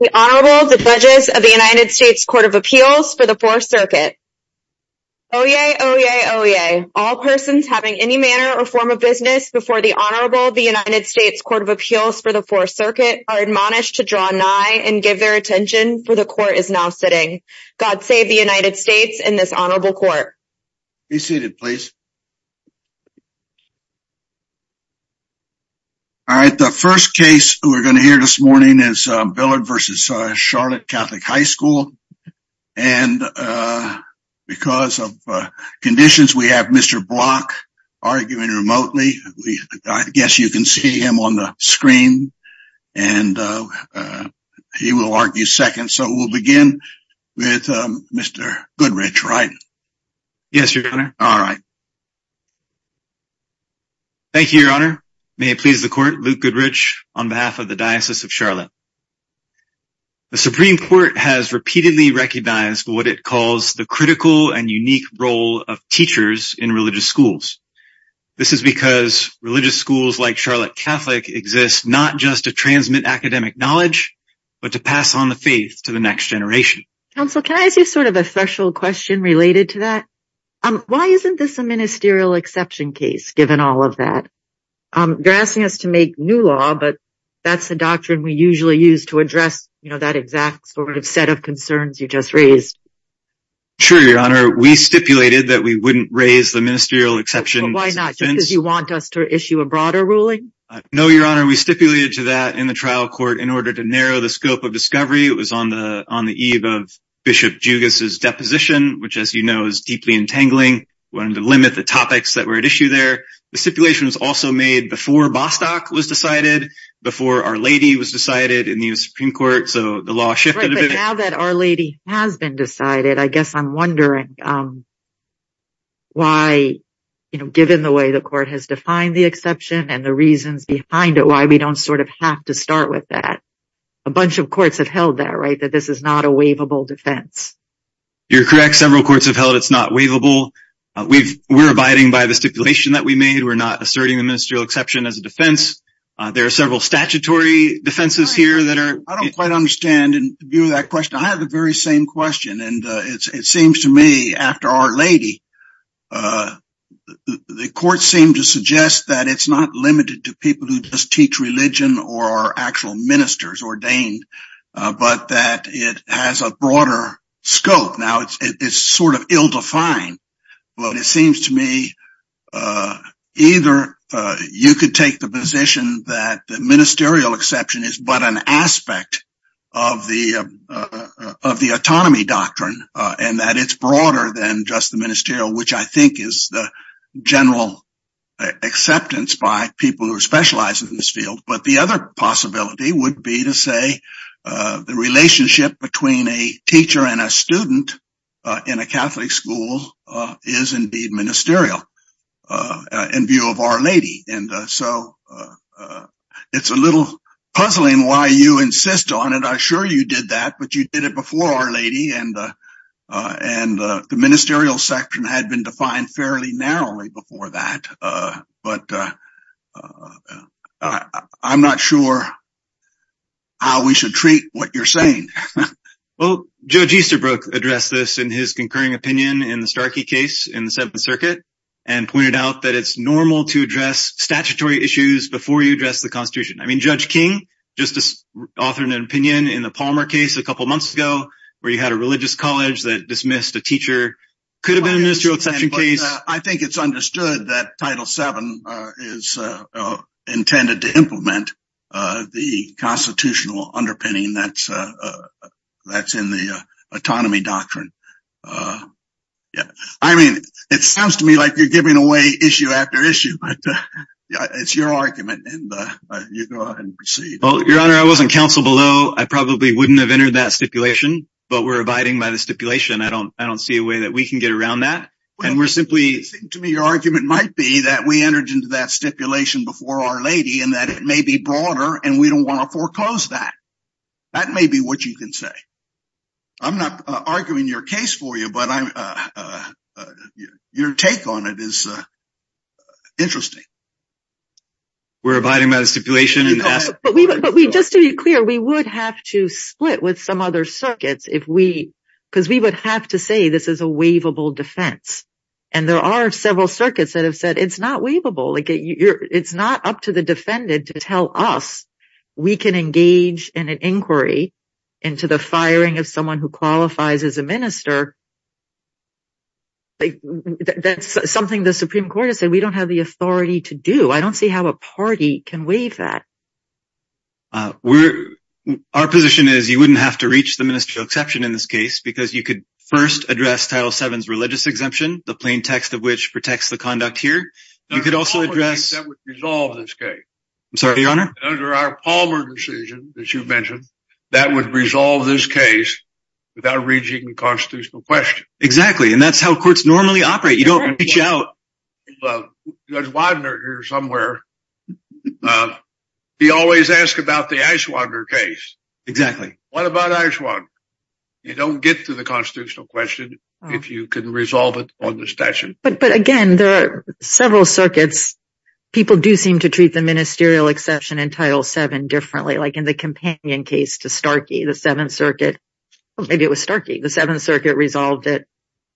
The Honorable the Pledges of the United States Court of Appeals for the Fourth Circuit. Oyez, oyez, oyez, all persons having any manner or form of business before the Honorable the United States Court of Appeals for the Fourth Circuit are admonished to draw nigh and give their attention for the court is now sitting. God save the United States and this honorable court. Be seated please. All right, the first case we're going to hear this morning is Billard versus Charlotte Catholic High School and because of conditions we have Mr. Block arguing remotely. I guess you can see him on the screen and he will argue second so we'll begin with Mr. Goodrich, right? Yes, your honor. All right. Thank you, your honor. May it please the court, Luke Goodrich on behalf of the Diocese of Charlotte. The Supreme Court has repeatedly recognized what it calls the critical and unique role of teachers in religious schools. This is because religious schools like Charlotte Catholic exist not just to transmit academic knowledge but to pass on the faith to the next generation. Counsel, can I ask you sort of a special question related to that? Why isn't this a ministerial exception case given all of that? You're asking us to make new law but that's the doctrine we usually use to address, you know, that exact sort of set of concerns you just raised. Sure, your honor. We stipulated that we wouldn't raise the ministerial exception. Why not? Because you want us to issue a broader ruling? No, your honor. We stipulated to that in trial court in order to narrow the scope of discovery. It was on the on the eve of Bishop Jugas's deposition which, as you know, is deeply entangling. We wanted to limit the topics that were at issue there. The stipulation was also made before Bostock was decided, before Our Lady was decided in the Supreme Court, so the law shifted. But now that Our Lady has been decided, I guess I'm wondering why, you know, given the way the court has defined the exception and the reasons behind it, why we don't sort of have to start with that. A bunch of courts have held that right, that this is not a waivable defense. You're correct. Several courts have held it's not waivable. We're abiding by the stipulation that we made. We're not asserting the ministerial exception as a defense. There are several statutory defenses here that are... I don't quite understand and view that question. I have the very same question and it seems to me after Our Lady, the court seemed to suggest that it's not limited to people who just teach religion or are actual ministers ordained, but that it has a broader scope. Now it's sort of ill-defined, but it seems to me either you could take the position that the ministerial exception is but an aspect of the autonomy doctrine and that it's broader than just the ministerial, which I think is the general acceptance by people who are specialized in this field. But the other possibility would be to say the relationship between a teacher and a student in a Catholic school is indeed ministerial in view of Our Lady. And so it's a little puzzling why you insist on it. I'm sure you did that, but you did it before Our Lady and the ministerial section had been defined fairly narrowly before that. But I'm not sure how we should treat what you're saying. Well, Judge Easterbrook addressed this in his concurring opinion in the Starkey case in the Seventh Circuit and pointed out that it's normal to address statutory issues before you address the Constitution. I mean, Judge King just authored an opinion in the Palmer case a couple months ago where you had a religious college that dismissed a teacher could have been a ministerial exception case. I think it's understood that Title VII is intended to implement the constitutional underpinning that's in the autonomy doctrine. I mean, it sounds to me like you're giving away issue after issue, but it's your argument and you go ahead and proceed. Well, Your Honor, I wasn't counsel below. I probably wouldn't have entered that stipulation, but we're abiding by the stipulation. I don't see a way that we can get around that. Well, I think to me your argument might be that we entered into that stipulation before Our Lady and that it may be broader and we don't want to foreclose that. That may be what you can say. I'm not arguing your case for you, but your take on it is interesting. We're abiding by the stipulation. But just to be clear, we would have to split with some other circuits because we would have to say this is a waivable defense. And there are several circuits that have said it's not to the defendant to tell us we can engage in an inquiry into the firing of someone who qualifies as a minister. That's something the Supreme Court has said we don't have the authority to do. I don't see how a party can waive that. Our position is you wouldn't have to reach the ministerial exception in this case because you could first address Title VII's religious case. Under our Palmer decision, as you mentioned, that would resolve this case without reaching a constitutional question. Exactly, and that's how courts normally operate. You don't reach out to Judge Widener here somewhere. He always asks about the Eichwander case. Exactly. What about Eichwander? You don't get to the constitutional question if you can resolve it on the statute. But again, there are several circuits. People do seem to treat the ministerial exception in Title VII differently, like in the companion case to Starkey, the Seventh Circuit. Maybe it was Starkey. The Seventh Circuit resolved it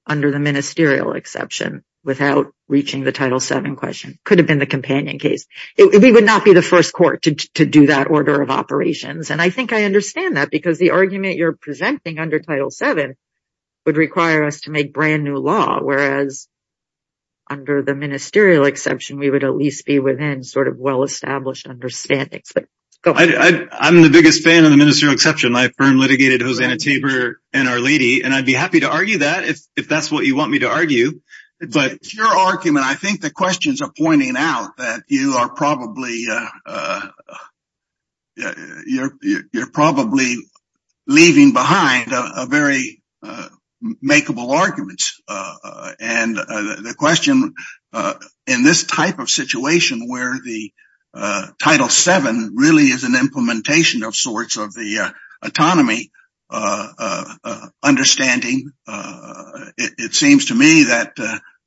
under the ministerial exception without reaching the Title VII question. Could have been the companion case. We would not be the first court to do that order of operations. And I think I understand that because the argument you're presenting under Title VII would require us to be within well-established understandings. I'm the biggest fan of the ministerial exception. My firm litigated Hosanna Tabor and Our Lady, and I'd be happy to argue that if that's what you want me to argue. It's your argument. I think the questions are pointing out that you are probably leaving behind very makeable arguments. And the question in this type of situation where the Title VII really is an implementation of sorts of the autonomy understanding, it seems to me that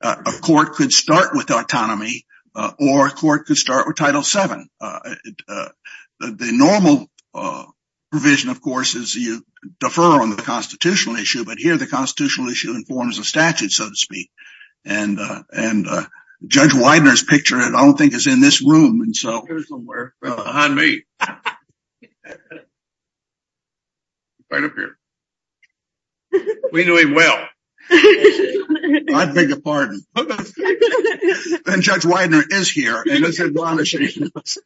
a court could start with autonomy or a court could start with Title VII. The normal provision, of course, is you defer on the constitutional issue. But here, the constitutional issue informs the statute, so to speak. And Judge Widener's picture, I don't think, is in this room. You're somewhere behind me. Right up here. We knew him well. I beg your pardon. And Judge Widener is here and is admonishing us.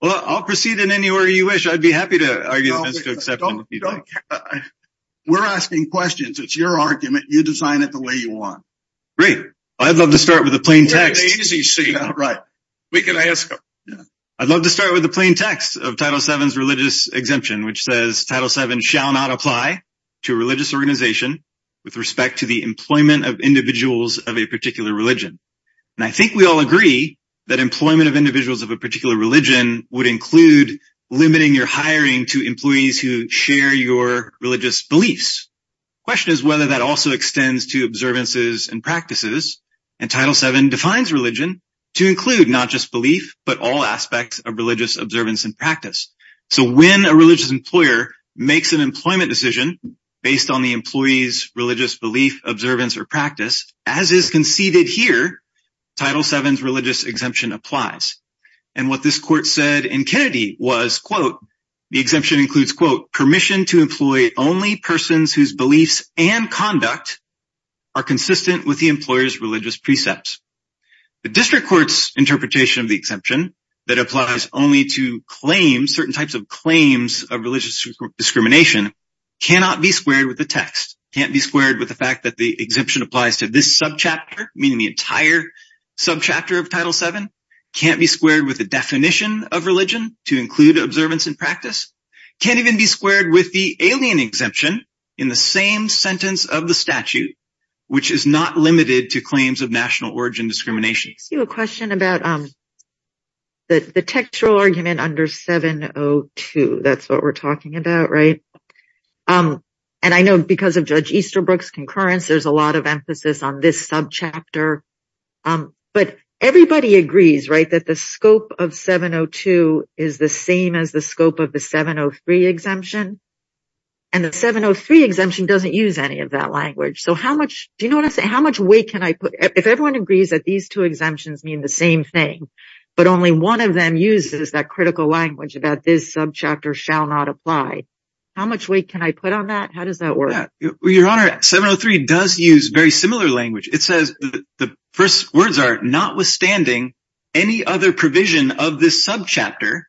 Well, I'll proceed in any order you wish. I'd be happy to argue the ministerial exception. We're asking questions. It's your argument. You design it the way you want. Great. I'd love to start with a plain text. All right. We can ask him. I'd love to start with the plain text of Title VII's religious exemption, which says Title VII shall not apply to a religious organization with respect to the employment of individuals of a particular religion. And I think we all agree that employment of individuals of a particular religion would include limiting your hiring to employees who share your religious beliefs. The question is whether that also extends to observances and practices. And Title VII defines religion to include not just belief, but all aspects of religious observance and practice. So when a religious employer makes an employment decision based on the employee's religious belief, observance, or practice, as is conceded here, Title VII's religious exemption applies. And what this court said in Kennedy was, quote, the exemption includes, quote, permission to employ only persons whose beliefs and conduct are consistent with the employer's religious precepts. The district court's interpretation of the exemption that applies only to claims, certain types of claims of religious discrimination, cannot be squared with the text, can't be squared with the fact that the exemption applies to this subchapter, meaning the entire subchapter of Title VII, can't be squared with the definition of religion to include observance and practice, can't even be squared with the alien exemption in the same sentence of the statute, which is not limited to claims of national origin discrimination. I see a question about the textual argument under 702. That's what we're talking about, right? And I know because of Judge Easterbrook's concurrence, there's a lot of emphasis on this subchapter. But everybody agrees, right, that the scope of 702 is the same as the scope of the 703 of that language. So how much, do you know what I'm saying, how much weight can I put, if everyone agrees that these two exemptions mean the same thing, but only one of them uses that critical language about this subchapter shall not apply, how much weight can I put on that? How does that work? Well, Your Honor, 703 does use very similar language. It says, the first words are, notwithstanding any other provision of this subchapter,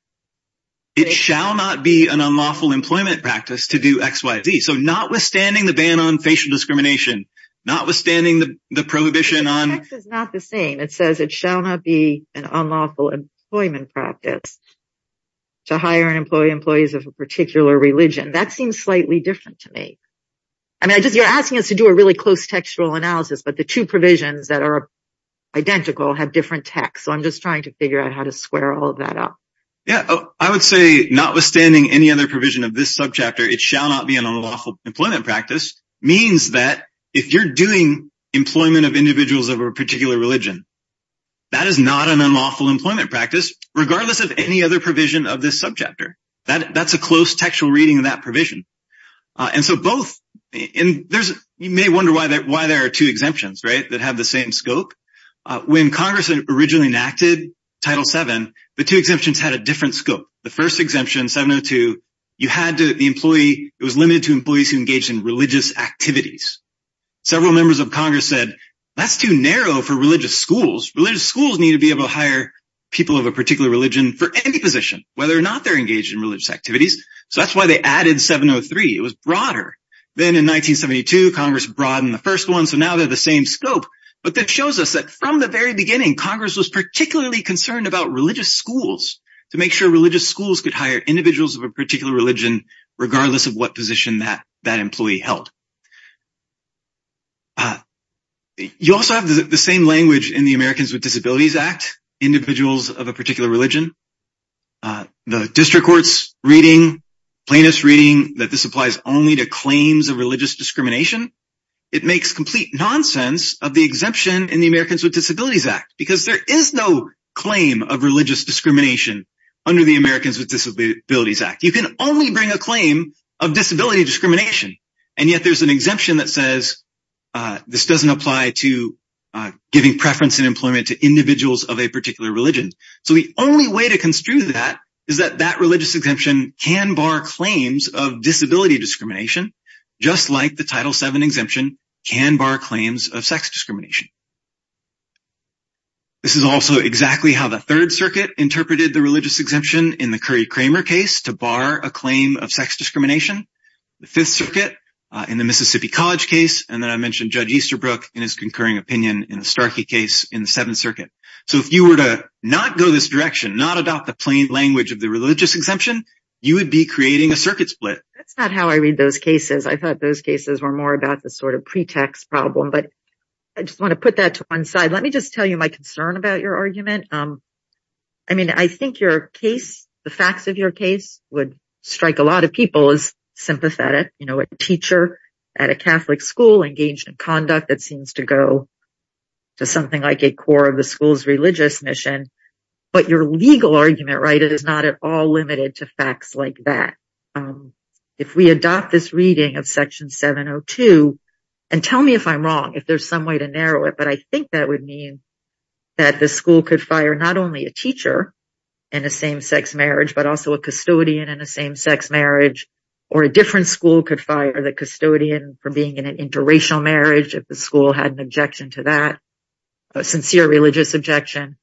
it shall not be an unlawful employment practice to do XYZ. So notwithstanding the ban on facial discrimination, notwithstanding the prohibition on- The text is not the same. It says it shall not be an unlawful employment practice to hire and employ employees of a particular religion. That seems slightly different to me. I mean, you're asking us to do a really close textual analysis, but the two provisions that are identical have different texts. So I'm just figuring out how to square all of that up. Yeah. I would say, notwithstanding any other provision of this subchapter, it shall not be an unlawful employment practice, means that if you're doing employment of individuals of a particular religion, that is not an unlawful employment practice, regardless of any other provision of this subchapter. That's a close textual reading of that provision. And so both, and there's, you may wonder why there are two exemptions, right, that have the same scope. When Congress originally enacted Title VII, the two exemptions had a different scope. The first exemption, 702, you had the employee, it was limited to employees who engaged in religious activities. Several members of Congress said, that's too narrow for religious schools. Religious schools need to be able to hire people of a particular religion for any position, whether or not they're engaged in religious activities. So that's why they added 703. It was broader. Then in 1972, Congress broadened the first one. So now they're the same scope, but that shows us that from the very beginning, Congress was particularly concerned about religious schools to make sure religious schools could hire individuals of a particular religion, regardless of what position that employee held. You also have the same language in the Americans with Disabilities Act, individuals of a particular religion. The district court's reading, plaintiff's reading, that this applies only to claims of religious discrimination, it makes complete nonsense of the exemption in the Americans with Disabilities Act, because there is no claim of religious discrimination under the Americans with Disabilities Act. You can only bring a claim of disability discrimination, and yet there's an exemption that says, this doesn't apply to giving preference and employment to individuals of a particular religion. So the only way to construe that is that that religious exemption can bar claims of disability discrimination, just like the Title VII exemption can bar claims of sex discrimination. This is also exactly how the Third Circuit interpreted the religious exemption in the Curry-Kramer case to bar a claim of sex discrimination. The Fifth Circuit in the Mississippi College case, and then I mentioned Judge Easterbrook in his concurring opinion in the Starkey case in the Seventh Circuit. So if you were to not go this direction, not adopt the plain language of the religious exemption, you would be creating a circuit split. That's not how I read those cases. I thought those cases were more about the sort of pretext problem, but I just want to put that to one side. Let me just tell you my concern about your argument. I mean, I think your case, the facts of your case, would strike a lot of people as sympathetic. You know, a teacher at a Catholic school engaged in conduct that seems to go to something like a core of the school's religious mission, but your legal argument, right, is not at all limited to facts like that. If we adopt this reading of Section 702, and tell me if I'm wrong, if there's some way to narrow it, but I think that would mean that the school could fire not only a teacher in a same-sex marriage, but also a custodian in a same-sex marriage, or a different school could fire the custodian for being in an interracial marriage if the school had an objection to that, a sincere religious objection,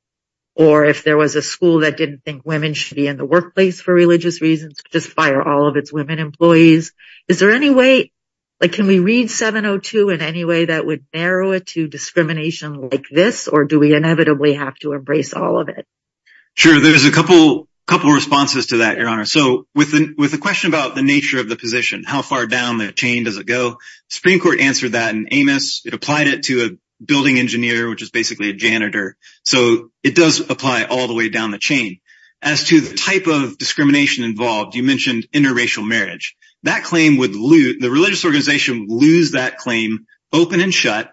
or if there was a school that didn't think women should be in the workplace for religious reasons, just fire all of its women employees. Is there any way, like, can we read 702 in any way that would narrow it to discrimination like this, or do we inevitably have to embrace all of it? Sure, there's a couple responses to that, Your Honor. So, with the question about the nature of the position, how far down the chain does it go, the Supreme Court answered that in Amos. It applied it to a building engineer, which is basically a janitor, so it does apply all the way down the chain. As to the type of discrimination involved, you mentioned interracial marriage. That claim would lose, the religious organization would lose that claim open and shut,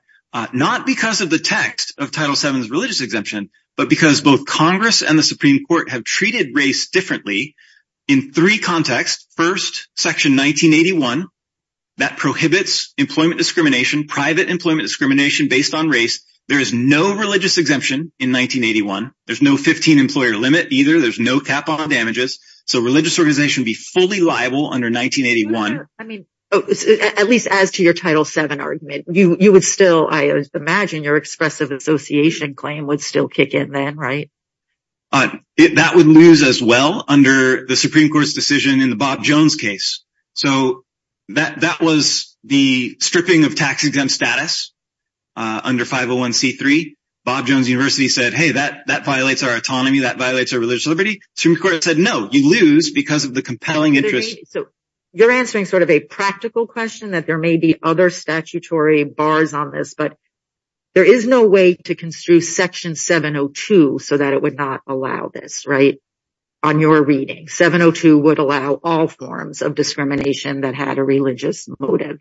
not because of the text of Title VII's religious exemption, but because both Congress and the Supreme Court have treated race differently in three contexts. First, Section 1981, that prohibits employment discrimination, private employment discrimination based on race. There is no religious exemption in 1981. There's no 15 employer limit either. There's no cap on damages, so religious organization would be fully liable under 1981. I mean, at least as to your Title VII argument, you would still, I imagine, your expressive association claim would still kick in then, right? That would lose as well under the Supreme Court's decision in the Bob Jones case. So, that was the stripping of tax-exempt status under 501c3. Bob Jones University said, hey, that violates our autonomy, that violates our religious liberty. Supreme Court said, no, you lose because of the compelling interest. So, you're answering sort of a to construe Section 702 so that it would not allow this, right, on your reading. 702 would allow all forms of discrimination that had a religious motive.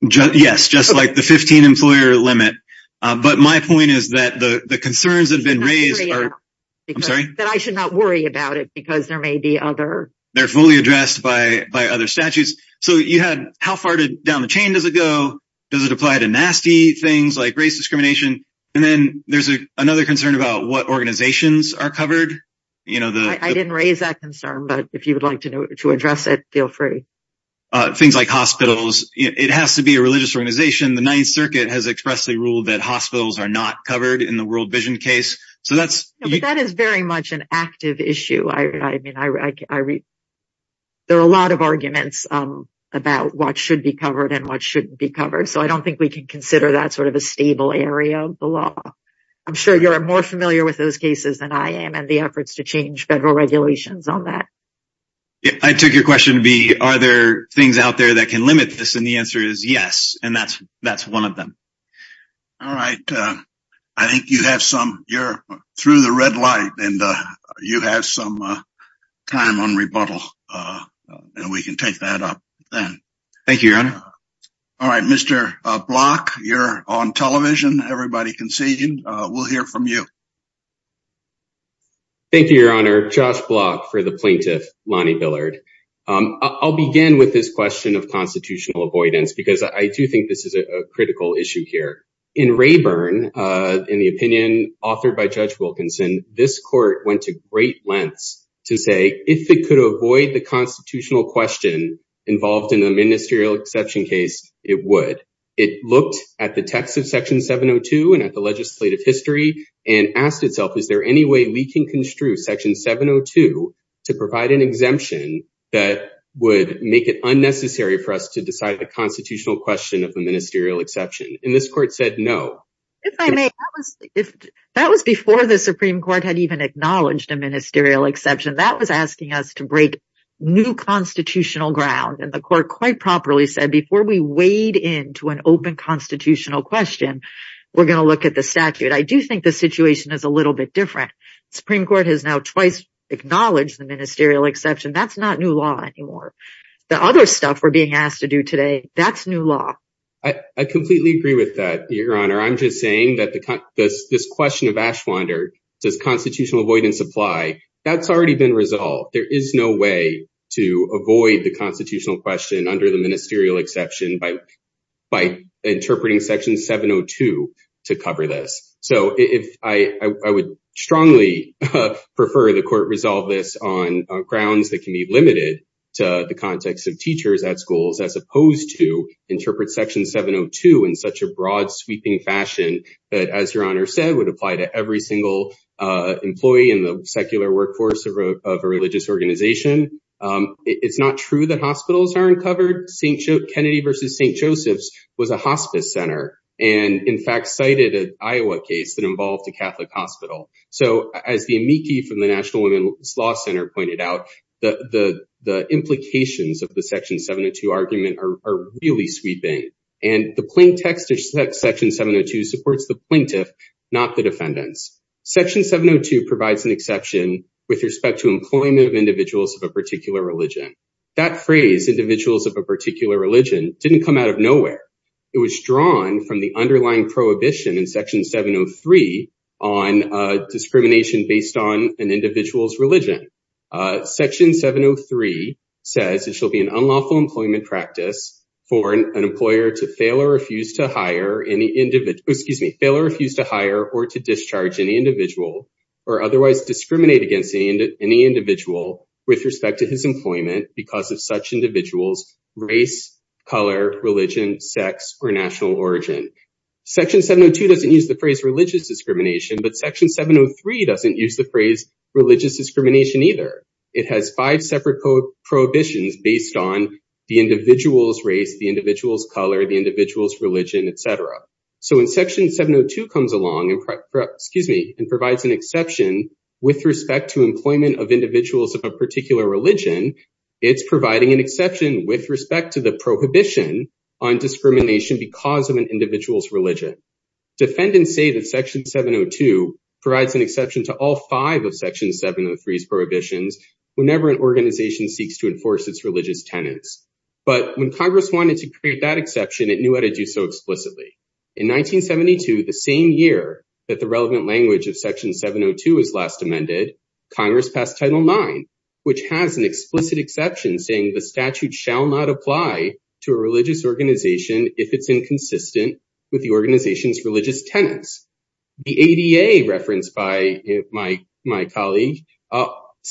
Yes, just like the 15 employer limit, but my point is that the concerns that have been raised, I'm sorry, that I should not worry about it because there may be other, they're fully addressed by other statutes. So, you had how far down the chain does it go? Does it apply to nasty things like race discrimination? And then there's another concern about what organizations are covered. I didn't raise that concern, but if you would like to address it, feel free. Things like hospitals. It has to be a religious organization. The Ninth Circuit has expressly ruled that hospitals are not covered in the World Vision case. So, that is very much an active issue. I mean, there are a lot of arguments about what should be covered and what shouldn't be covered. So, I don't think we can consider that sort of a stable area of the law. I'm sure you're more familiar with those cases than I am and the efforts to change federal regulations on that. I took your question to be, are there things out there that can limit this? And the answer is yes, and that's one of them. All right. I think you have some, you're through the red light and you have some time on rebuttal and we can take that up then. Thank you, Your Honor. All right, Mr. Block, you're on television. Everybody can see you. We'll hear from you. Thank you, Your Honor. Josh Block for the plaintiff, Lonnie Billard. I'll begin with this question of constitutional avoidance because I do think this is a critical issue here. In Rayburn, in the opinion authored by Judge Wilkinson, this court went to great lengths to say if it could avoid the constitutional question involved in the ministerial exception case, it would. It looked at the text of section 702 and at the legislative history and asked itself, is there any way we can construe section 702 to provide an exemption that would make it unnecessary for us to decide the constitutional question of the ministerial exception? And this court said no. That was before the Supreme Court had even acknowledged a ministerial exception. That was asking us to break new constitutional ground. And the court quite properly said, before we wade into an open constitutional question, we're going to look at the statute. I do think the situation is a little bit different. The Supreme Court has now twice acknowledged the ministerial exception. That's not new law anymore. The other stuff we're being asked to do today, that's new law. I completely agree with that, Your Honor. I'm just saying that this question of Ashwander, does constitutional avoidance apply? That's already been resolved. There is no way to avoid the constitutional question under the ministerial exception by interpreting section 702 to cover this. So I would strongly prefer the court resolve this on grounds that can be limited to the context of teachers at schools, as opposed to interpret section 702 in such a broad, sweeping fashion that, as Your Honor said, would apply to every single employee in the secular workforce of a religious organization. It's not true that hospitals aren't covered. Kennedy versus St. Joseph's was a hospice center, and in fact cited an Iowa case that involved a Catholic hospital. So as the amici from the National Women's Law Center pointed out, the implications of the section 702 argument are really sweeping. And the plain text of section 702 supports the plaintiff, not the defendants. Section 702 provides an exception with respect to employment of individuals of a particular religion. That phrase, individuals of a particular religion, didn't come out of nowhere. It was drawn from the underlying prohibition in section 703 on discrimination based on an individual's religion. Section 703 says it shall be an unlawful employment practice for an employer to fail or refuse to hire or to discharge any individual or otherwise discriminate against any individual with respect to his employment because of such individuals' race, color, religion, sex, or national origin. Section 702 doesn't use the phrase religious discrimination, but section 703 doesn't use the phrase religious discrimination either. It has five separate prohibitions based on the individual's race, the individual's color, the individual's religion, et cetera. So when section 702 comes along and provides an exception with respect to employment of individuals of a particular religion, it's providing an exception with respect to the prohibition on discrimination because of an individual's religion. Defendants say that section 702 provides an exception to all five of section 703's prohibitions whenever an organization seeks to enforce its religious tenets. But when Congress wanted to create that exception, it knew how to do so explicitly. In 1972, the same year that the Congress passed Title IX, which has an explicit exception saying the statute shall not apply to a religious organization if it's inconsistent with the organization's religious tenets. The ADA referenced by my colleague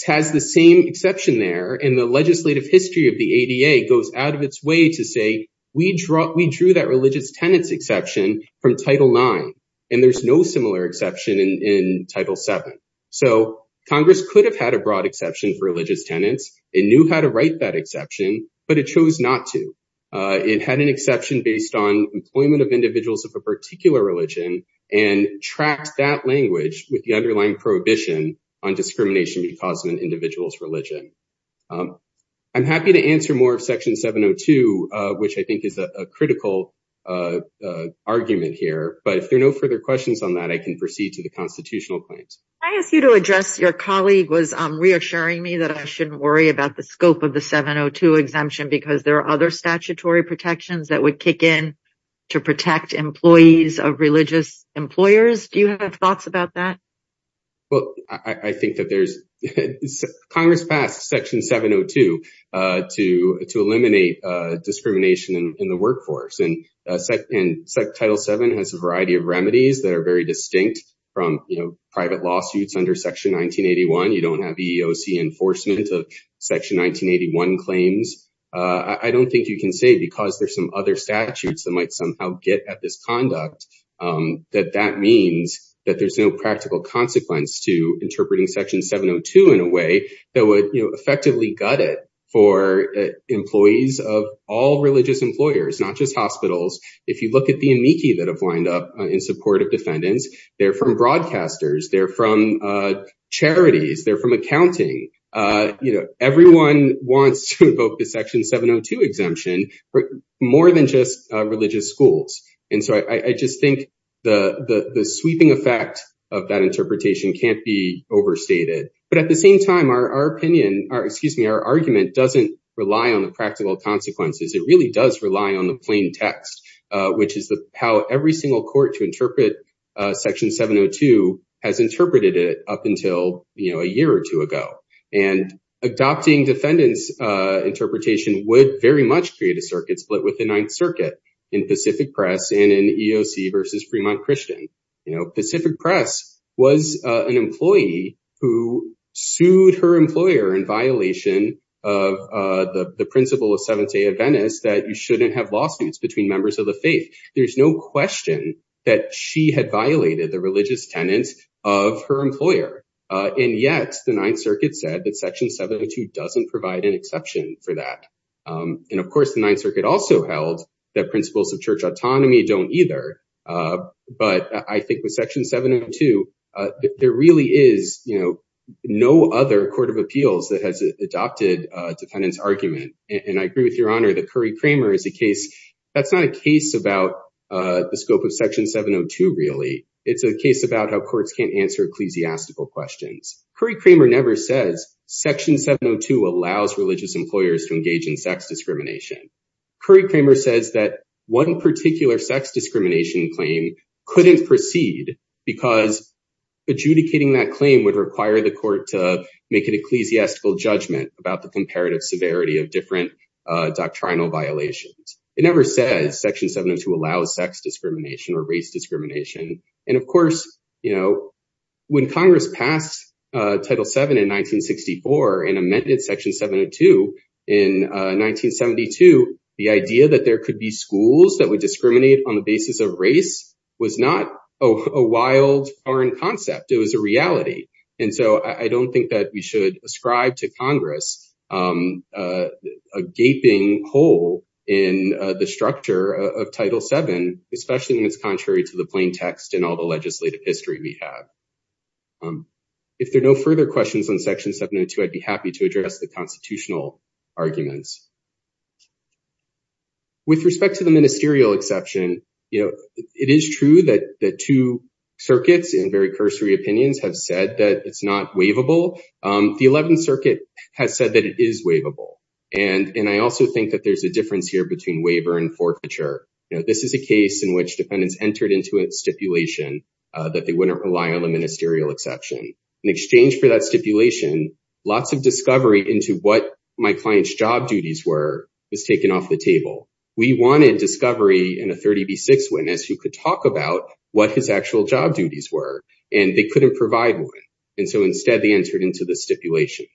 has the same exception there, and the legislative history of the ADA goes out of its way to say we drew that religious tenets exception from Title IX, and there's no similar exception in Title VII. So Congress could have had a broad exception for religious tenets. It knew how to write that exception, but it chose not to. It had an exception based on employment of individuals of a particular religion and tracked that language with the underlying prohibition on discrimination because of an individual's religion. I'm happy to answer more of section 702, which I think is a critical argument here, but if there are no further questions on that, I can proceed to the constitutional point. I ask you to address your colleague was reassuring me that I shouldn't worry about the scope of the 702 exemption because there are other statutory protections that would kick in to protect employees of religious employers. Do you have thoughts about that? Well, I think that Congress passed section 702 to eliminate discrimination in the and Title VII has a variety of remedies that are very distinct from private lawsuits under section 1981. You don't have EEOC enforcement of section 1981 claims. I don't think you can say because there's some other statutes that might somehow get at this conduct that that means that there's no practical consequence to interpreting section 702 in a way that would effectively gut it for employees of all religious employers, not just hospitals. If you look at the amici that have lined up in support of defendants, they're from broadcasters, they're from charities, they're from accounting. Everyone wants to invoke the section 702 exemption more than just religious schools. And so I just think the sweeping effect of that interpretation can't be overstated. But at the same time, our opinion or excuse me, our argument doesn't rely on the practical consequences. It really does rely on the plain text, which is how every single court to interpret section 702 has interpreted it up until a year or two ago. And adopting defendants interpretation would very much create a circuit split with the Ninth Circuit in Pacific Press and in EEOC versus Fremont Christian. You know, Pacific Press was an employee who sued her employer in violation of the principle of Seventh Day Adventist that you shouldn't have lawsuits between members of the faith. There's no question that she had violated the religious tenets of her employer. And yet the Ninth Circuit said that section 702 doesn't provide an exception for that. And of course, the Ninth Circuit also held that principles of church autonomy don't either. But I think with section 702, there really is, you know, no other court of appeals that has adopted defendants argument. And I agree with your honor that Curry-Kramer is a case, that's not a case about the scope of section 702 really, it's a case about how courts can't answer ecclesiastical questions. Curry-Kramer never says section 702 allows religious employers to engage in sex discrimination. Curry-Kramer says that one particular sex discrimination claim couldn't proceed because adjudicating that claim would require the court to make an ecclesiastical judgment about the comparative severity of different doctrinal violations. It never says section 702 allows sex discrimination or race discrimination. And of course, you know, when in 1972, the idea that there could be schools that would discriminate on the basis of race was not a wild foreign concept, it was a reality. And so I don't think that we should ascribe to Congress a gaping hole in the structure of Title VII, especially when it's contrary to the plain text and all the legislative history we have. If there are no further questions on section 702, I'd be happy to address the constitutional arguments. With respect to the ministerial exception, you know, it is true that the two circuits in very cursory opinions have said that it's not waivable. The 11th Circuit has said that it is waivable. And I also think that there's a difference here between waiver and forfeiture. You know, this is a case in which defendants entered into a stipulation that they wouldn't rely on the ministerial exception. In exchange for that stipulation, lots of discovery into what my client's job duties were was taken off the table. We wanted discovery in a 30B6 witness who could talk about what his actual job duties were, and they couldn't provide one. And so instead, they entered into the stipulation.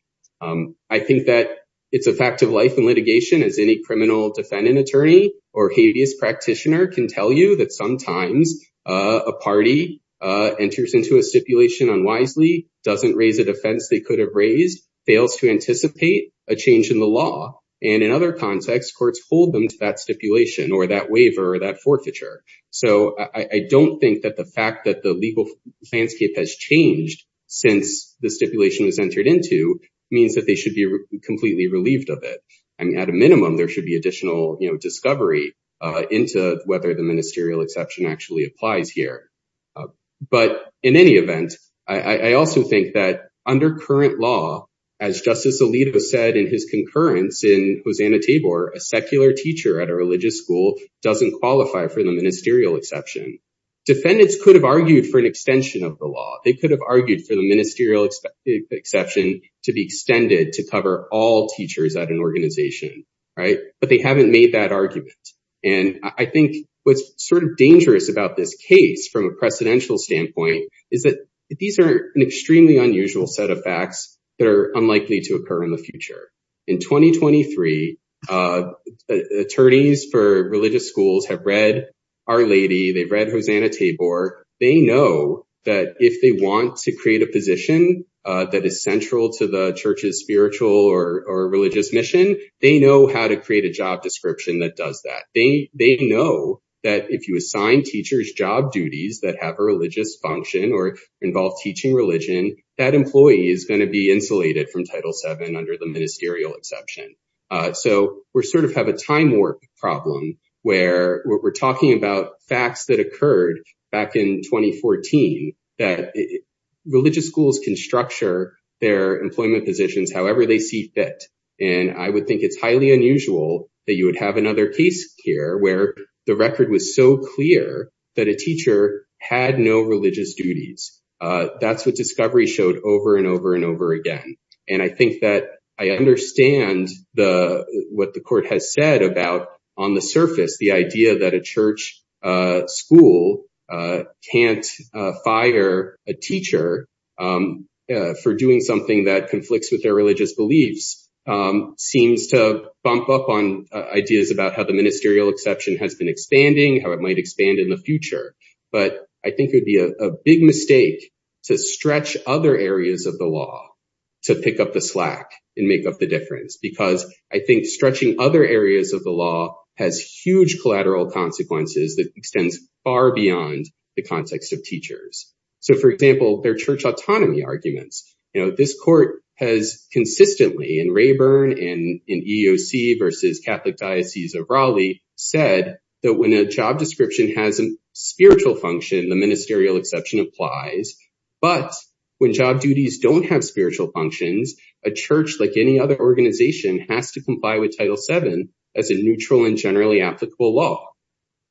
I think that it's a fact of life in litigation as any criminal defendant attorney or habeas practitioner can tell you that sometimes a party enters into a stipulation unwisely, doesn't raise a defense they could have raised, fails to anticipate a change in the law, and in other contexts, courts hold them to that stipulation or that waiver or that forfeiture. So I don't think that the fact that the legal landscape has changed since the stipulation was entered into means that they should be completely relieved of it. I mean, at a minimum, there should be additional, you know, discovery into whether the ministerial exception actually applies here. But in any event, I also think that under current law, as Justice Alito said in his concurrence in Hosanna-Tabor, a secular teacher at a religious school doesn't qualify for the ministerial exception. Defendants could have argued for an extension of the law. They could have argued for the ministerial exception to be extended to cover all teachers at an organization, right? But they haven't made that argument. And I think what's sort of dangerous about this case from a precedential standpoint is that these are an extremely unusual set of facts that are unlikely to occur in the future. In 2023, attorneys for religious schools have read Our Lady. They've read Hosanna-Tabor. They know that if they want to create a position that is central to the church's spiritual or religious mission, they know how to create a job description that does that. They know that if you assign teachers job duties that have a religious function or involve teaching religion, that employee is going to be insulated from Title VII under the ministerial exception. So we sort of have a time warp problem where we're talking about facts that occurred back in 2014 that religious schools can structure their employment positions however they see fit. And I would think it's highly unusual that you would have another case here where the record was so clear that a teacher had no religious duties. That's what discovery showed over and over and over again. And I think that I understand what the court has said about, on the surface, the idea that a church school can't fire a teacher for doing something that conflicts with their religious beliefs seems to bump up on ideas about how the ministerial exception has been expanding, how it might expand in the future. But I think it would be a big mistake to stretch other areas of the law to pick up the slack and make up the difference, because I think stretching other areas of the law has huge collateral consequences that extends far beyond the ministerial exception. As consistently in Rayburn and in EEOC versus Catholic Diocese of Raleigh said that when a job description has a spiritual function, the ministerial exception applies. But when job duties don't have spiritual functions, a church, like any other organization, has to comply with Title VII as a neutral and generally applicable law.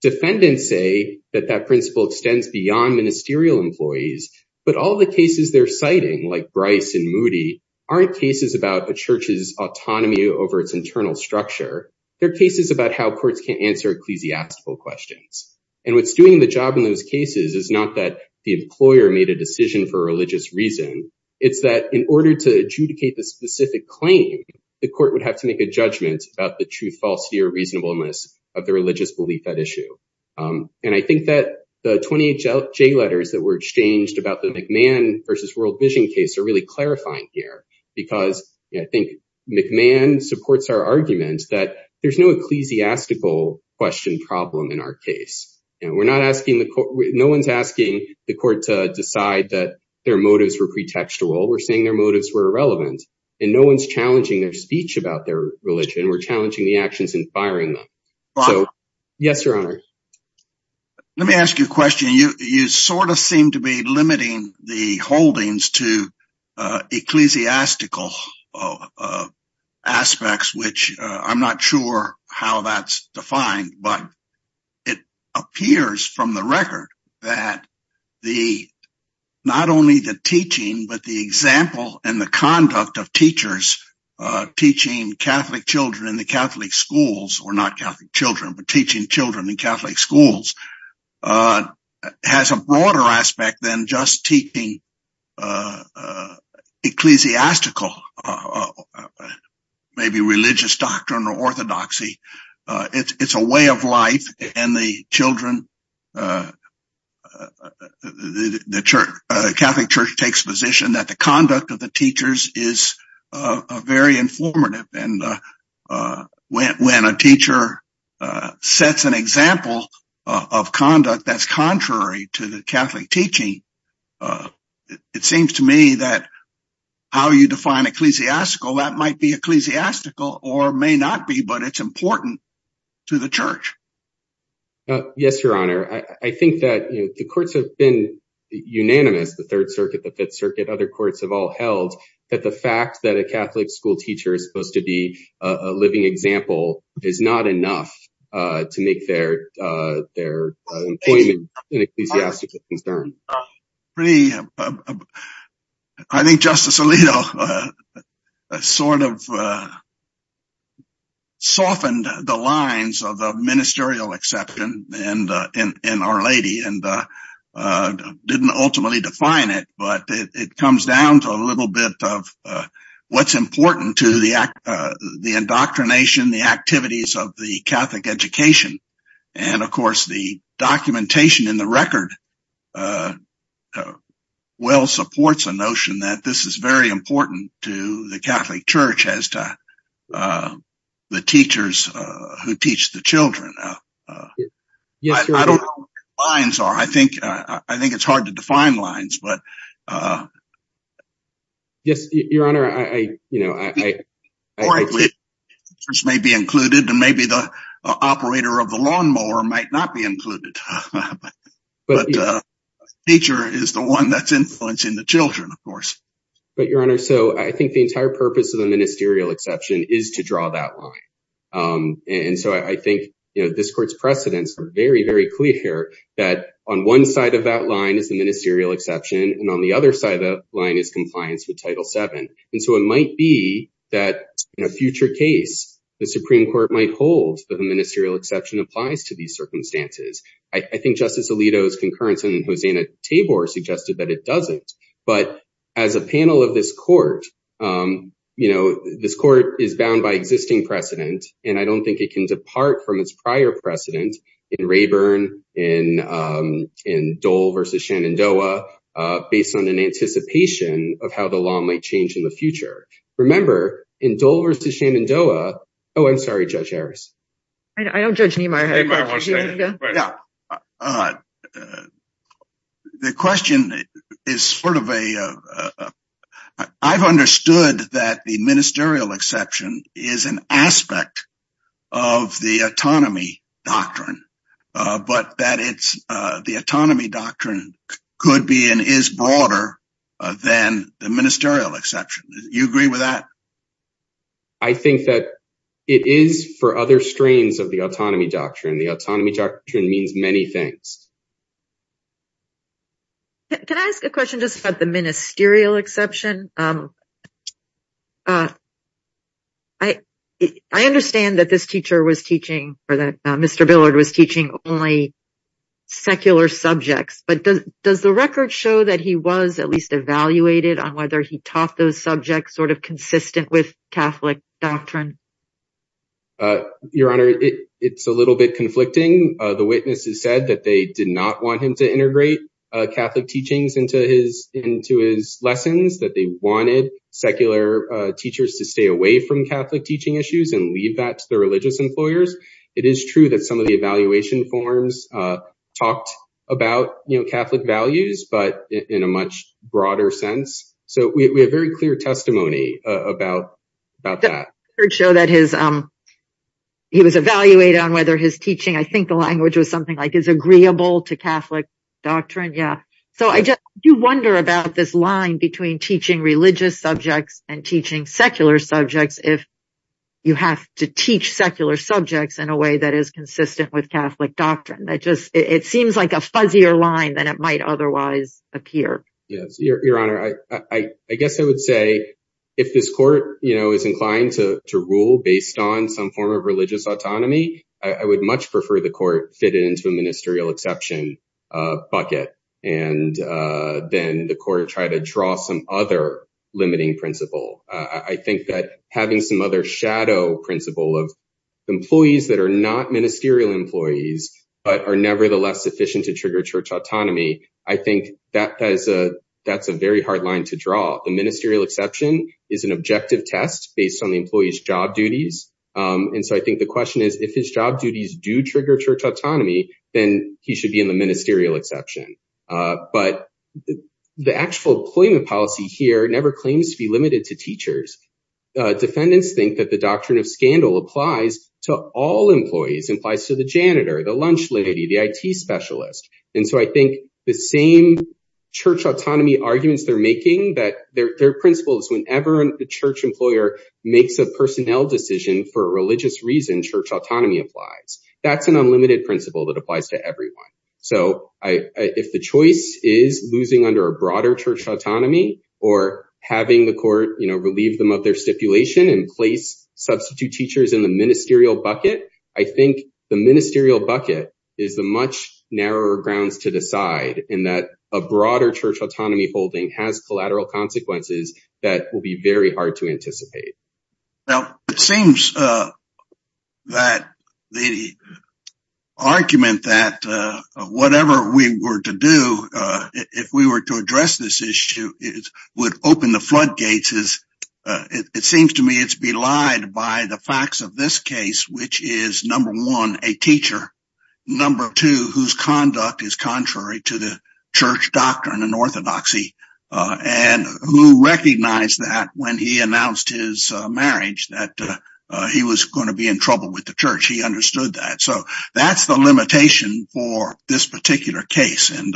Defendants say that that principle extends beyond ministerial employees, but all the cases they're citing, like Bryce and Moody, aren't cases about a church's autonomy over its internal structure. They're cases about how courts can't answer ecclesiastical questions. And what's doing the job in those cases is not that the employer made a decision for religious reason. It's that in order to adjudicate the specific claim, the court would have to make a judgment about the truth, falsity, or reasonableness of the religious belief at issue. And I think that the 28 J letters that were exchanged about the McMahon versus World Vision case are really clarifying here. Because I think McMahon supports our argument that there's no ecclesiastical question problem in our case. And we're not asking the court, no one's asking the court to decide that their motives were pretextual. We're saying their motives were irrelevant. And no one's challenging their speech about their religion. We're challenging the actions and firing them. So, yes, your honor. Let me ask you a question. You sort of seem to be limiting the holdings to ecclesiastical aspects, which I'm not sure how that's defined. But it appears from the record that not only the teaching, but the example and the conduct of teachers teaching Catholic children in the Catholic schools, or not Catholic children, but teaching children in Catholic schools, has a broader aspect than just teaching ecclesiastical, maybe religious doctrine or orthodoxy. It's a way of life and the children, the Catholic Church takes position that the conduct of the teachers is very informative and when a teacher sets an example of conduct that's contrary to the Catholic teaching, it seems to me that how you define ecclesiastical, that might be ecclesiastical or may not be, but it's important to the church. Yes, your honor. I think that the courts have been unanimous, the Third Circuit, the Fifth Circuit, other courts have all held that the fact that a Catholic school teacher is supposed to be a living example is not enough to make their employment an ecclesiastical concern. I think Justice Alito sort of softened the lines of the ministerial exception in Our Lady and didn't ultimately define it, but it comes down to a little bit of what's important to the indoctrination, the activities of the Catholic education, and of course the documentation in the record well supports a notion that this is very important to the Catholic Church as to the teachers who teach the children. Yes, your honor. I don't know what the lines are. I think it's hard to define lines, but yes, your honor, you know, teachers may be included and maybe the operator of the lawnmower might not be included, but a teacher is the one that's influencing the children, of course. But your honor, so I think the entire purpose of the ministerial exception is to draw that line, and so I think, you know, this court's precedents are very, very clear that on one side of that line is the ministerial exception and on the other side of the line is compliance with Title VII, and so it might be that in a future case the Supreme Court might hold that the ministerial exception applies to these circumstances. I think Justice Alito's concurrence and Hosanna Tabor suggested that it doesn't, but as a panel of this court, you know, this court is bound by and I don't think it can depart from its prior precedent in Rayburn, in Dole versus Shenandoah, based on an anticipation of how the law might change in the future. Remember, in Dole versus Shenandoah, oh, I'm sorry, Judge Harris. I don't judge Neimeyer. The question is sort of a, I've understood that the ministerial exception is an aspect of the autonomy doctrine, but that it's, the autonomy doctrine could be and is broader than the ministerial exception. You agree with that? I think that it is for other strains of the autonomy doctrine. The autonomy doctrine means many things. Can I ask a question just about the ministerial exception? I understand that this teacher was teaching, or that Mr. Billard was teaching only secular subjects, but does the record show that he was at least evaluated on whether he taught those subjects sort of consistent with Catholic doctrine? Your Honor, it's a little bit conflicting. The witnesses said that they did not want him to integrate Catholic teachings into his lessons, that they wanted secular teachers to stay away from Catholic teaching issues and leave that to the religious employers. It is true that some of the evaluation forms talked about Catholic values, but in a much broader sense. So we have very clear testimony about that. I heard show that he was evaluated on whether his teaching, I think the language was something like is agreeable to Catholic doctrine. Yeah. So I do wonder about this line between teaching religious subjects and teaching secular subjects if you have to teach secular subjects in a way that is consistent with Catholic doctrine. It seems like a fuzzier line than it might otherwise appear. Yes. Your Honor, I guess I would say if this court is inclined to rule based on some form of religious autonomy, I would much prefer the court fit into a ministerial exception bucket and then the court try to draw some other limiting principle. I think that having some other shadow principle of employees that are not ministerial employees, but are nevertheless sufficient to trigger church autonomy. I think that's a very hard line to draw. The ministerial exception is an objective test based on the employee's job duties. And so I think the question is if his job duties do trigger church autonomy, then he should be in the ministerial exception. But the actual employment policy here never claims to be limited to teachers. Defendants think that the doctrine of scandal applies to all employees, implies to the janitor, the lunch lady, the IT specialist. And so I think the same church autonomy arguments they're making, that their principle is whenever the church employer makes a personnel decision for a religious reason, church autonomy applies. That's an unlimited principle that applies to everyone. So if the choice is losing under a broader church autonomy or having the court, you know, relieve them of their stipulation and place substitute teachers in the ministerial bucket, I think the ministerial bucket is the much narrower grounds to decide in that a broader church autonomy holding has collateral consequences that will be very hard to anticipate. Now, it seems that the argument that whatever we were to do, if we were to address this issue, would open the floodgates. It seems to me it's belied by the facts of this case, which is number one, a teacher. Number two, whose conduct is contrary to the church doctrine and orthodoxy, and who recognized that when he announced his marriage, that he was going to be in trouble with the church. He understood that. So that's the limitation for this particular case. And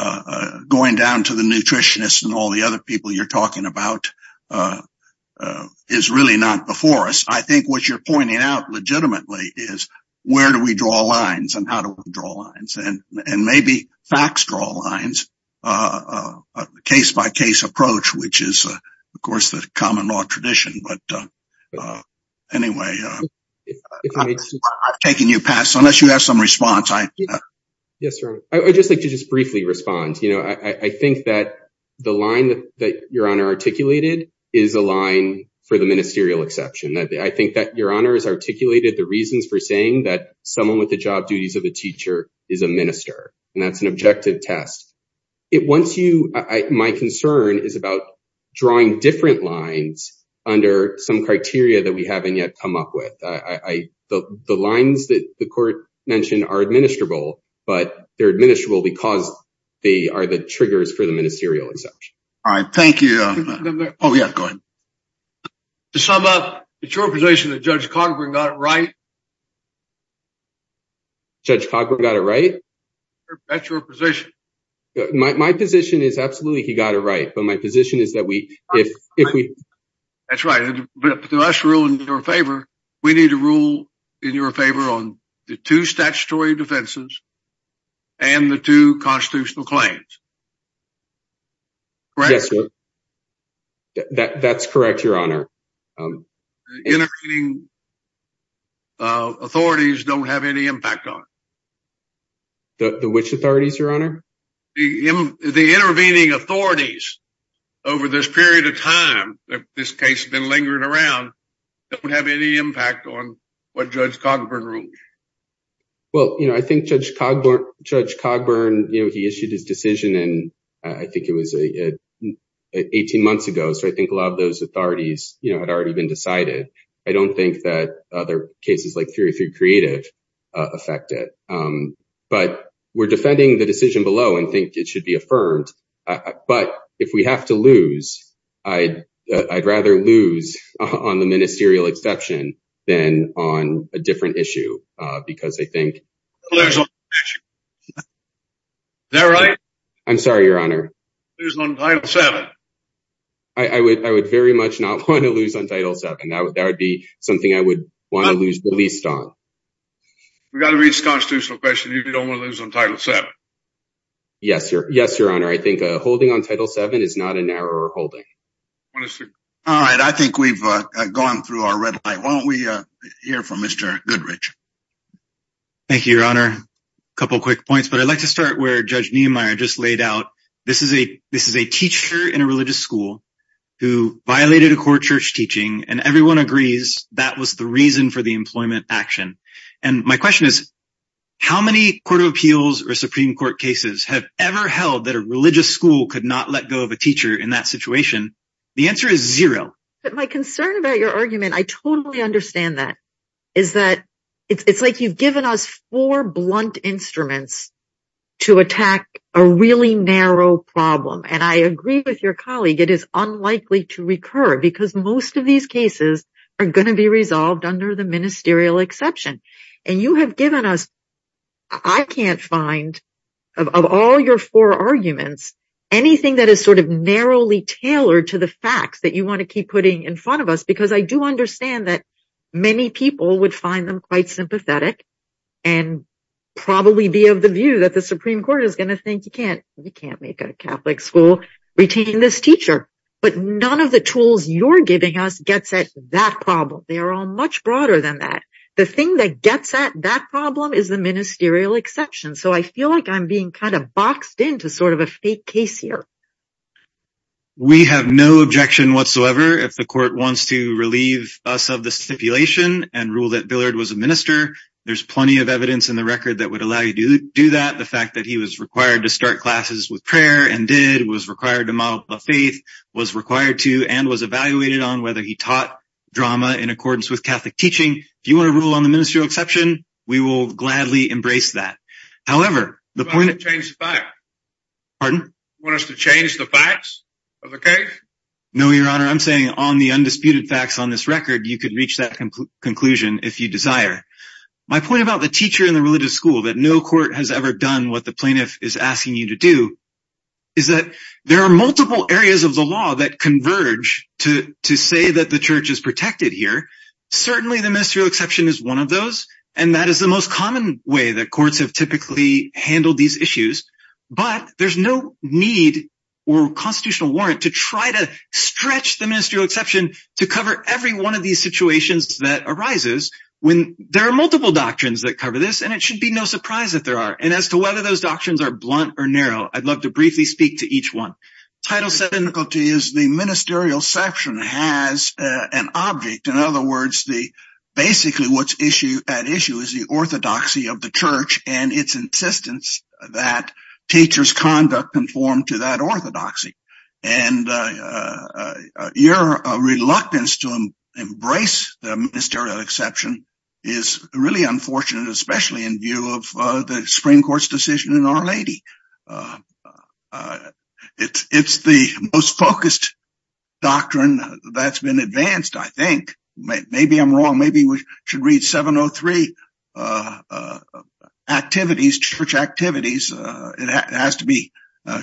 a going down to the nutritionist and all the other people you're talking about is really not before us. I think what you're pointing out legitimately is where do we draw lines and how to draw lines and maybe facts, draw lines, a case by case approach, which is, of course, the common law tradition. But anyway, I've taken you past unless you have some response. Yes. I'd just like to just briefly respond. I think that the line that your honor articulated is a line for the ministerial exception. I think that your honor has articulated the reasons for saying that someone with the job duties of a teacher is a minister, and that's an objective test. My concern is about drawing different lines under some criteria that we haven't yet come up with. The lines that the court mentioned are administrable, but they're administrable because they are the triggers for the ministerial exception. All right. Thank you. Oh, yeah, go ahead. To sum up, it's your position that Judge Cogburn got it right? Judge Cogburn got it right? That's your position. My position is absolutely he got it right. But my position is that if we... That's right. To us rule in your favor, we need to rule in your favor on the two statutory defenses and the two constitutional claims. Correct? Yes. That's correct, your honor. Intervening authorities don't have any impact on it. Which authorities, your honor? The intervening authorities over this period of time that this case has been lingering around don't have any impact on what Judge Cogburn ruled. Well, I think Judge Cogburn, he issued his decision, I think it was 18 months ago. So I think a lot of those authorities had already been decided. I don't think that other cases like 303 Creative affect it. But we're defending the decision below and think it should be affirmed. But if we have to lose, I'd rather lose on the ministerial exception than on a different issue. Because I think... Is that right? I'm sorry, your honor. I would very much not want to lose on Title VII. That would be something I would want to release on. We got to reach constitutional question. You don't want to lose on Title VII. Yes, your yes, your honor. I think holding on Title VII is not an error holding. All right. I think we've gone through our red light. Why don't we hear from Mr. Goodrich. Thank you, your honor. A couple quick points. But I'd like to start where Judge Niemeyer just laid out. This is a this is a teacher in a religious school who violated a core church teaching. And everyone agrees that was the reason for the employment action. And my question is, how many Court of Appeals or Supreme Court cases have ever held that a religious school could not let go of a teacher in that situation? The answer is zero. But my concern about your argument, I totally understand that, is that it's like you've given us four blunt instruments to attack a really narrow problem. And I agree with your colleague, it is unlikely to recur because most of these cases are going to be resolved under the ministerial exception. And you have given us, I can't find of all your four arguments, anything that is sort of narrowly tailored to the facts that you want to keep putting in front of us. Because I do understand that many people would find them quite sympathetic and probably be of the view that the Supreme Court is going to think you can't you can't make a Catholic school retain this teacher. But none of the tools you're giving us gets at that problem. They are all much broader than that. The thing that gets at that problem is the ministerial exception. So I feel like I'm being kind of boxed into sort of a fake case here. We have no objection whatsoever if the Court wants to relieve us of the stipulation and rule that Billard was a minister. There's plenty of evidence in the record that would allow you to do that. The fact that he was required to start classes with prayer and did, was required to model the faith, was required to, and was evaluated on whether he taught drama in accordance with Catholic teaching. If you want to rule on the ministerial exception, we will gladly embrace that. However, the point of- You want us to change the facts? Pardon? You want us to change the facts of the case? No, Your Honor. I'm saying on the undisputed facts on this record, you could reach that conclusion if you desire. My point about the teacher in the religious school, that no court has ever done what the plaintiff is asking you to do, is that there are multiple areas of the law that converge to say that the Church is protected here. Certainly, the ministerial exception is one of those, and that is the most common way that courts have typically handled these issues. But there's no need or constitutional warrant to try to stretch the ministerial exception to cover every one of these situations that arises when there are multiple doctrines that cover this, and it should be no surprise that there are. And as to whether those doctrines are blunt or narrow, I'd love to briefly speak to each one. Title VII- The difficulty is the ministerial exception has an object. In other words, basically what's at issue is the orthodoxy of the Church and its insistence that teachers' conduct conform to orthodoxy. And your reluctance to embrace the ministerial exception is really unfortunate, especially in view of the Supreme Court's decision in R-80. It's the most focused doctrine that's been advanced, I think. Maybe I'm wrong. Maybe we should read 703 and see what's at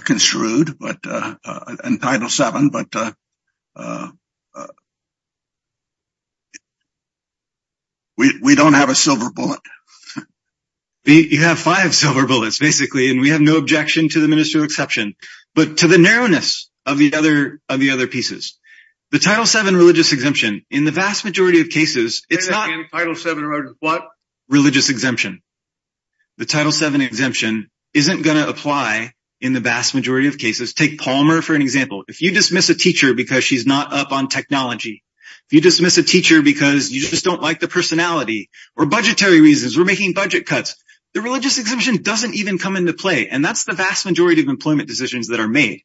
issue. But we don't have a silver bullet. You have five silver bullets, basically, and we have no objection to the ministerial exception. But to the narrowness of the other pieces, the Title VII religious exemption, in the vast majority of cases, it's not- And Title VII wrote what? Religious exemption. The Title VII exemption isn't going to apply in the vast majority of cases. Take Palmer for an example. If you dismiss a teacher because she's not up on technology, if you dismiss a teacher because you just don't like the personality, or budgetary reasons, we're making budget cuts, the religious exemption doesn't even come into play. And that's the vast majority of employment decisions that are made.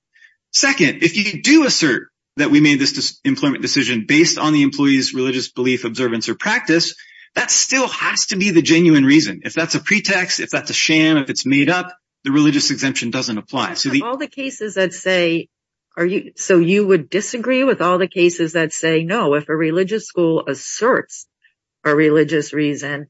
Second, if you do assert that we made this employment decision based on the employee's religious belief, observance, or practice, that still has to be the genuine reason. If that's a pretext, if that's a sham, if it's made up, the religious exemption doesn't apply. So you would disagree with all the cases that say, no, if a religious school asserts a religious reason,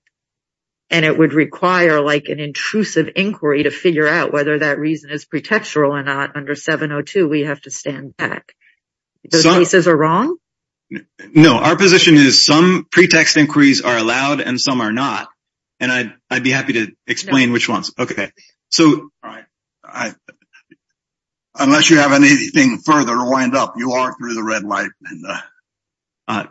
and it would require an intrusive inquiry to figure out whether that reason is pretextual or not under 702, we have to stand back. Those cases are wrong? No, our position is some pretext inquiries are allowed, and some are not. And I'd be happy to explain which ones. Okay. So. Unless you have anything further to wind up, you are through the red light.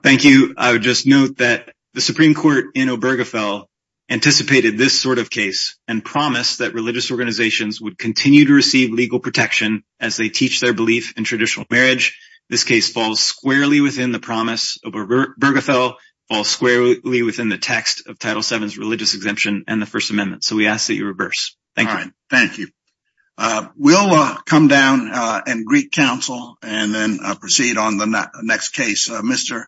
Thank you. I would just note that the Supreme Court in Obergefell anticipated this sort of case and promised that religious organizations would continue to receive legal protection as they teach their belief in traditional marriage. This case falls squarely within the promise of Obergefell, falls squarely within the text of Title VII's religious exemption and the First Amendment. So we ask that you reverse. Thank you. Thank you. We'll come down and greet counsel and then proceed on the next case. Mr.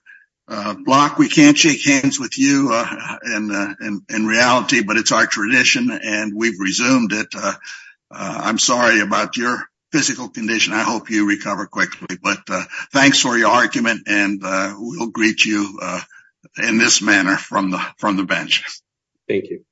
Block, we can't shake hands with you in reality, but it's our tradition and we've resumed it. I'm sorry about your physical condition. I hope you recover quickly. But thanks for your argument and we'll greet you in this manner from the bench. Thank you.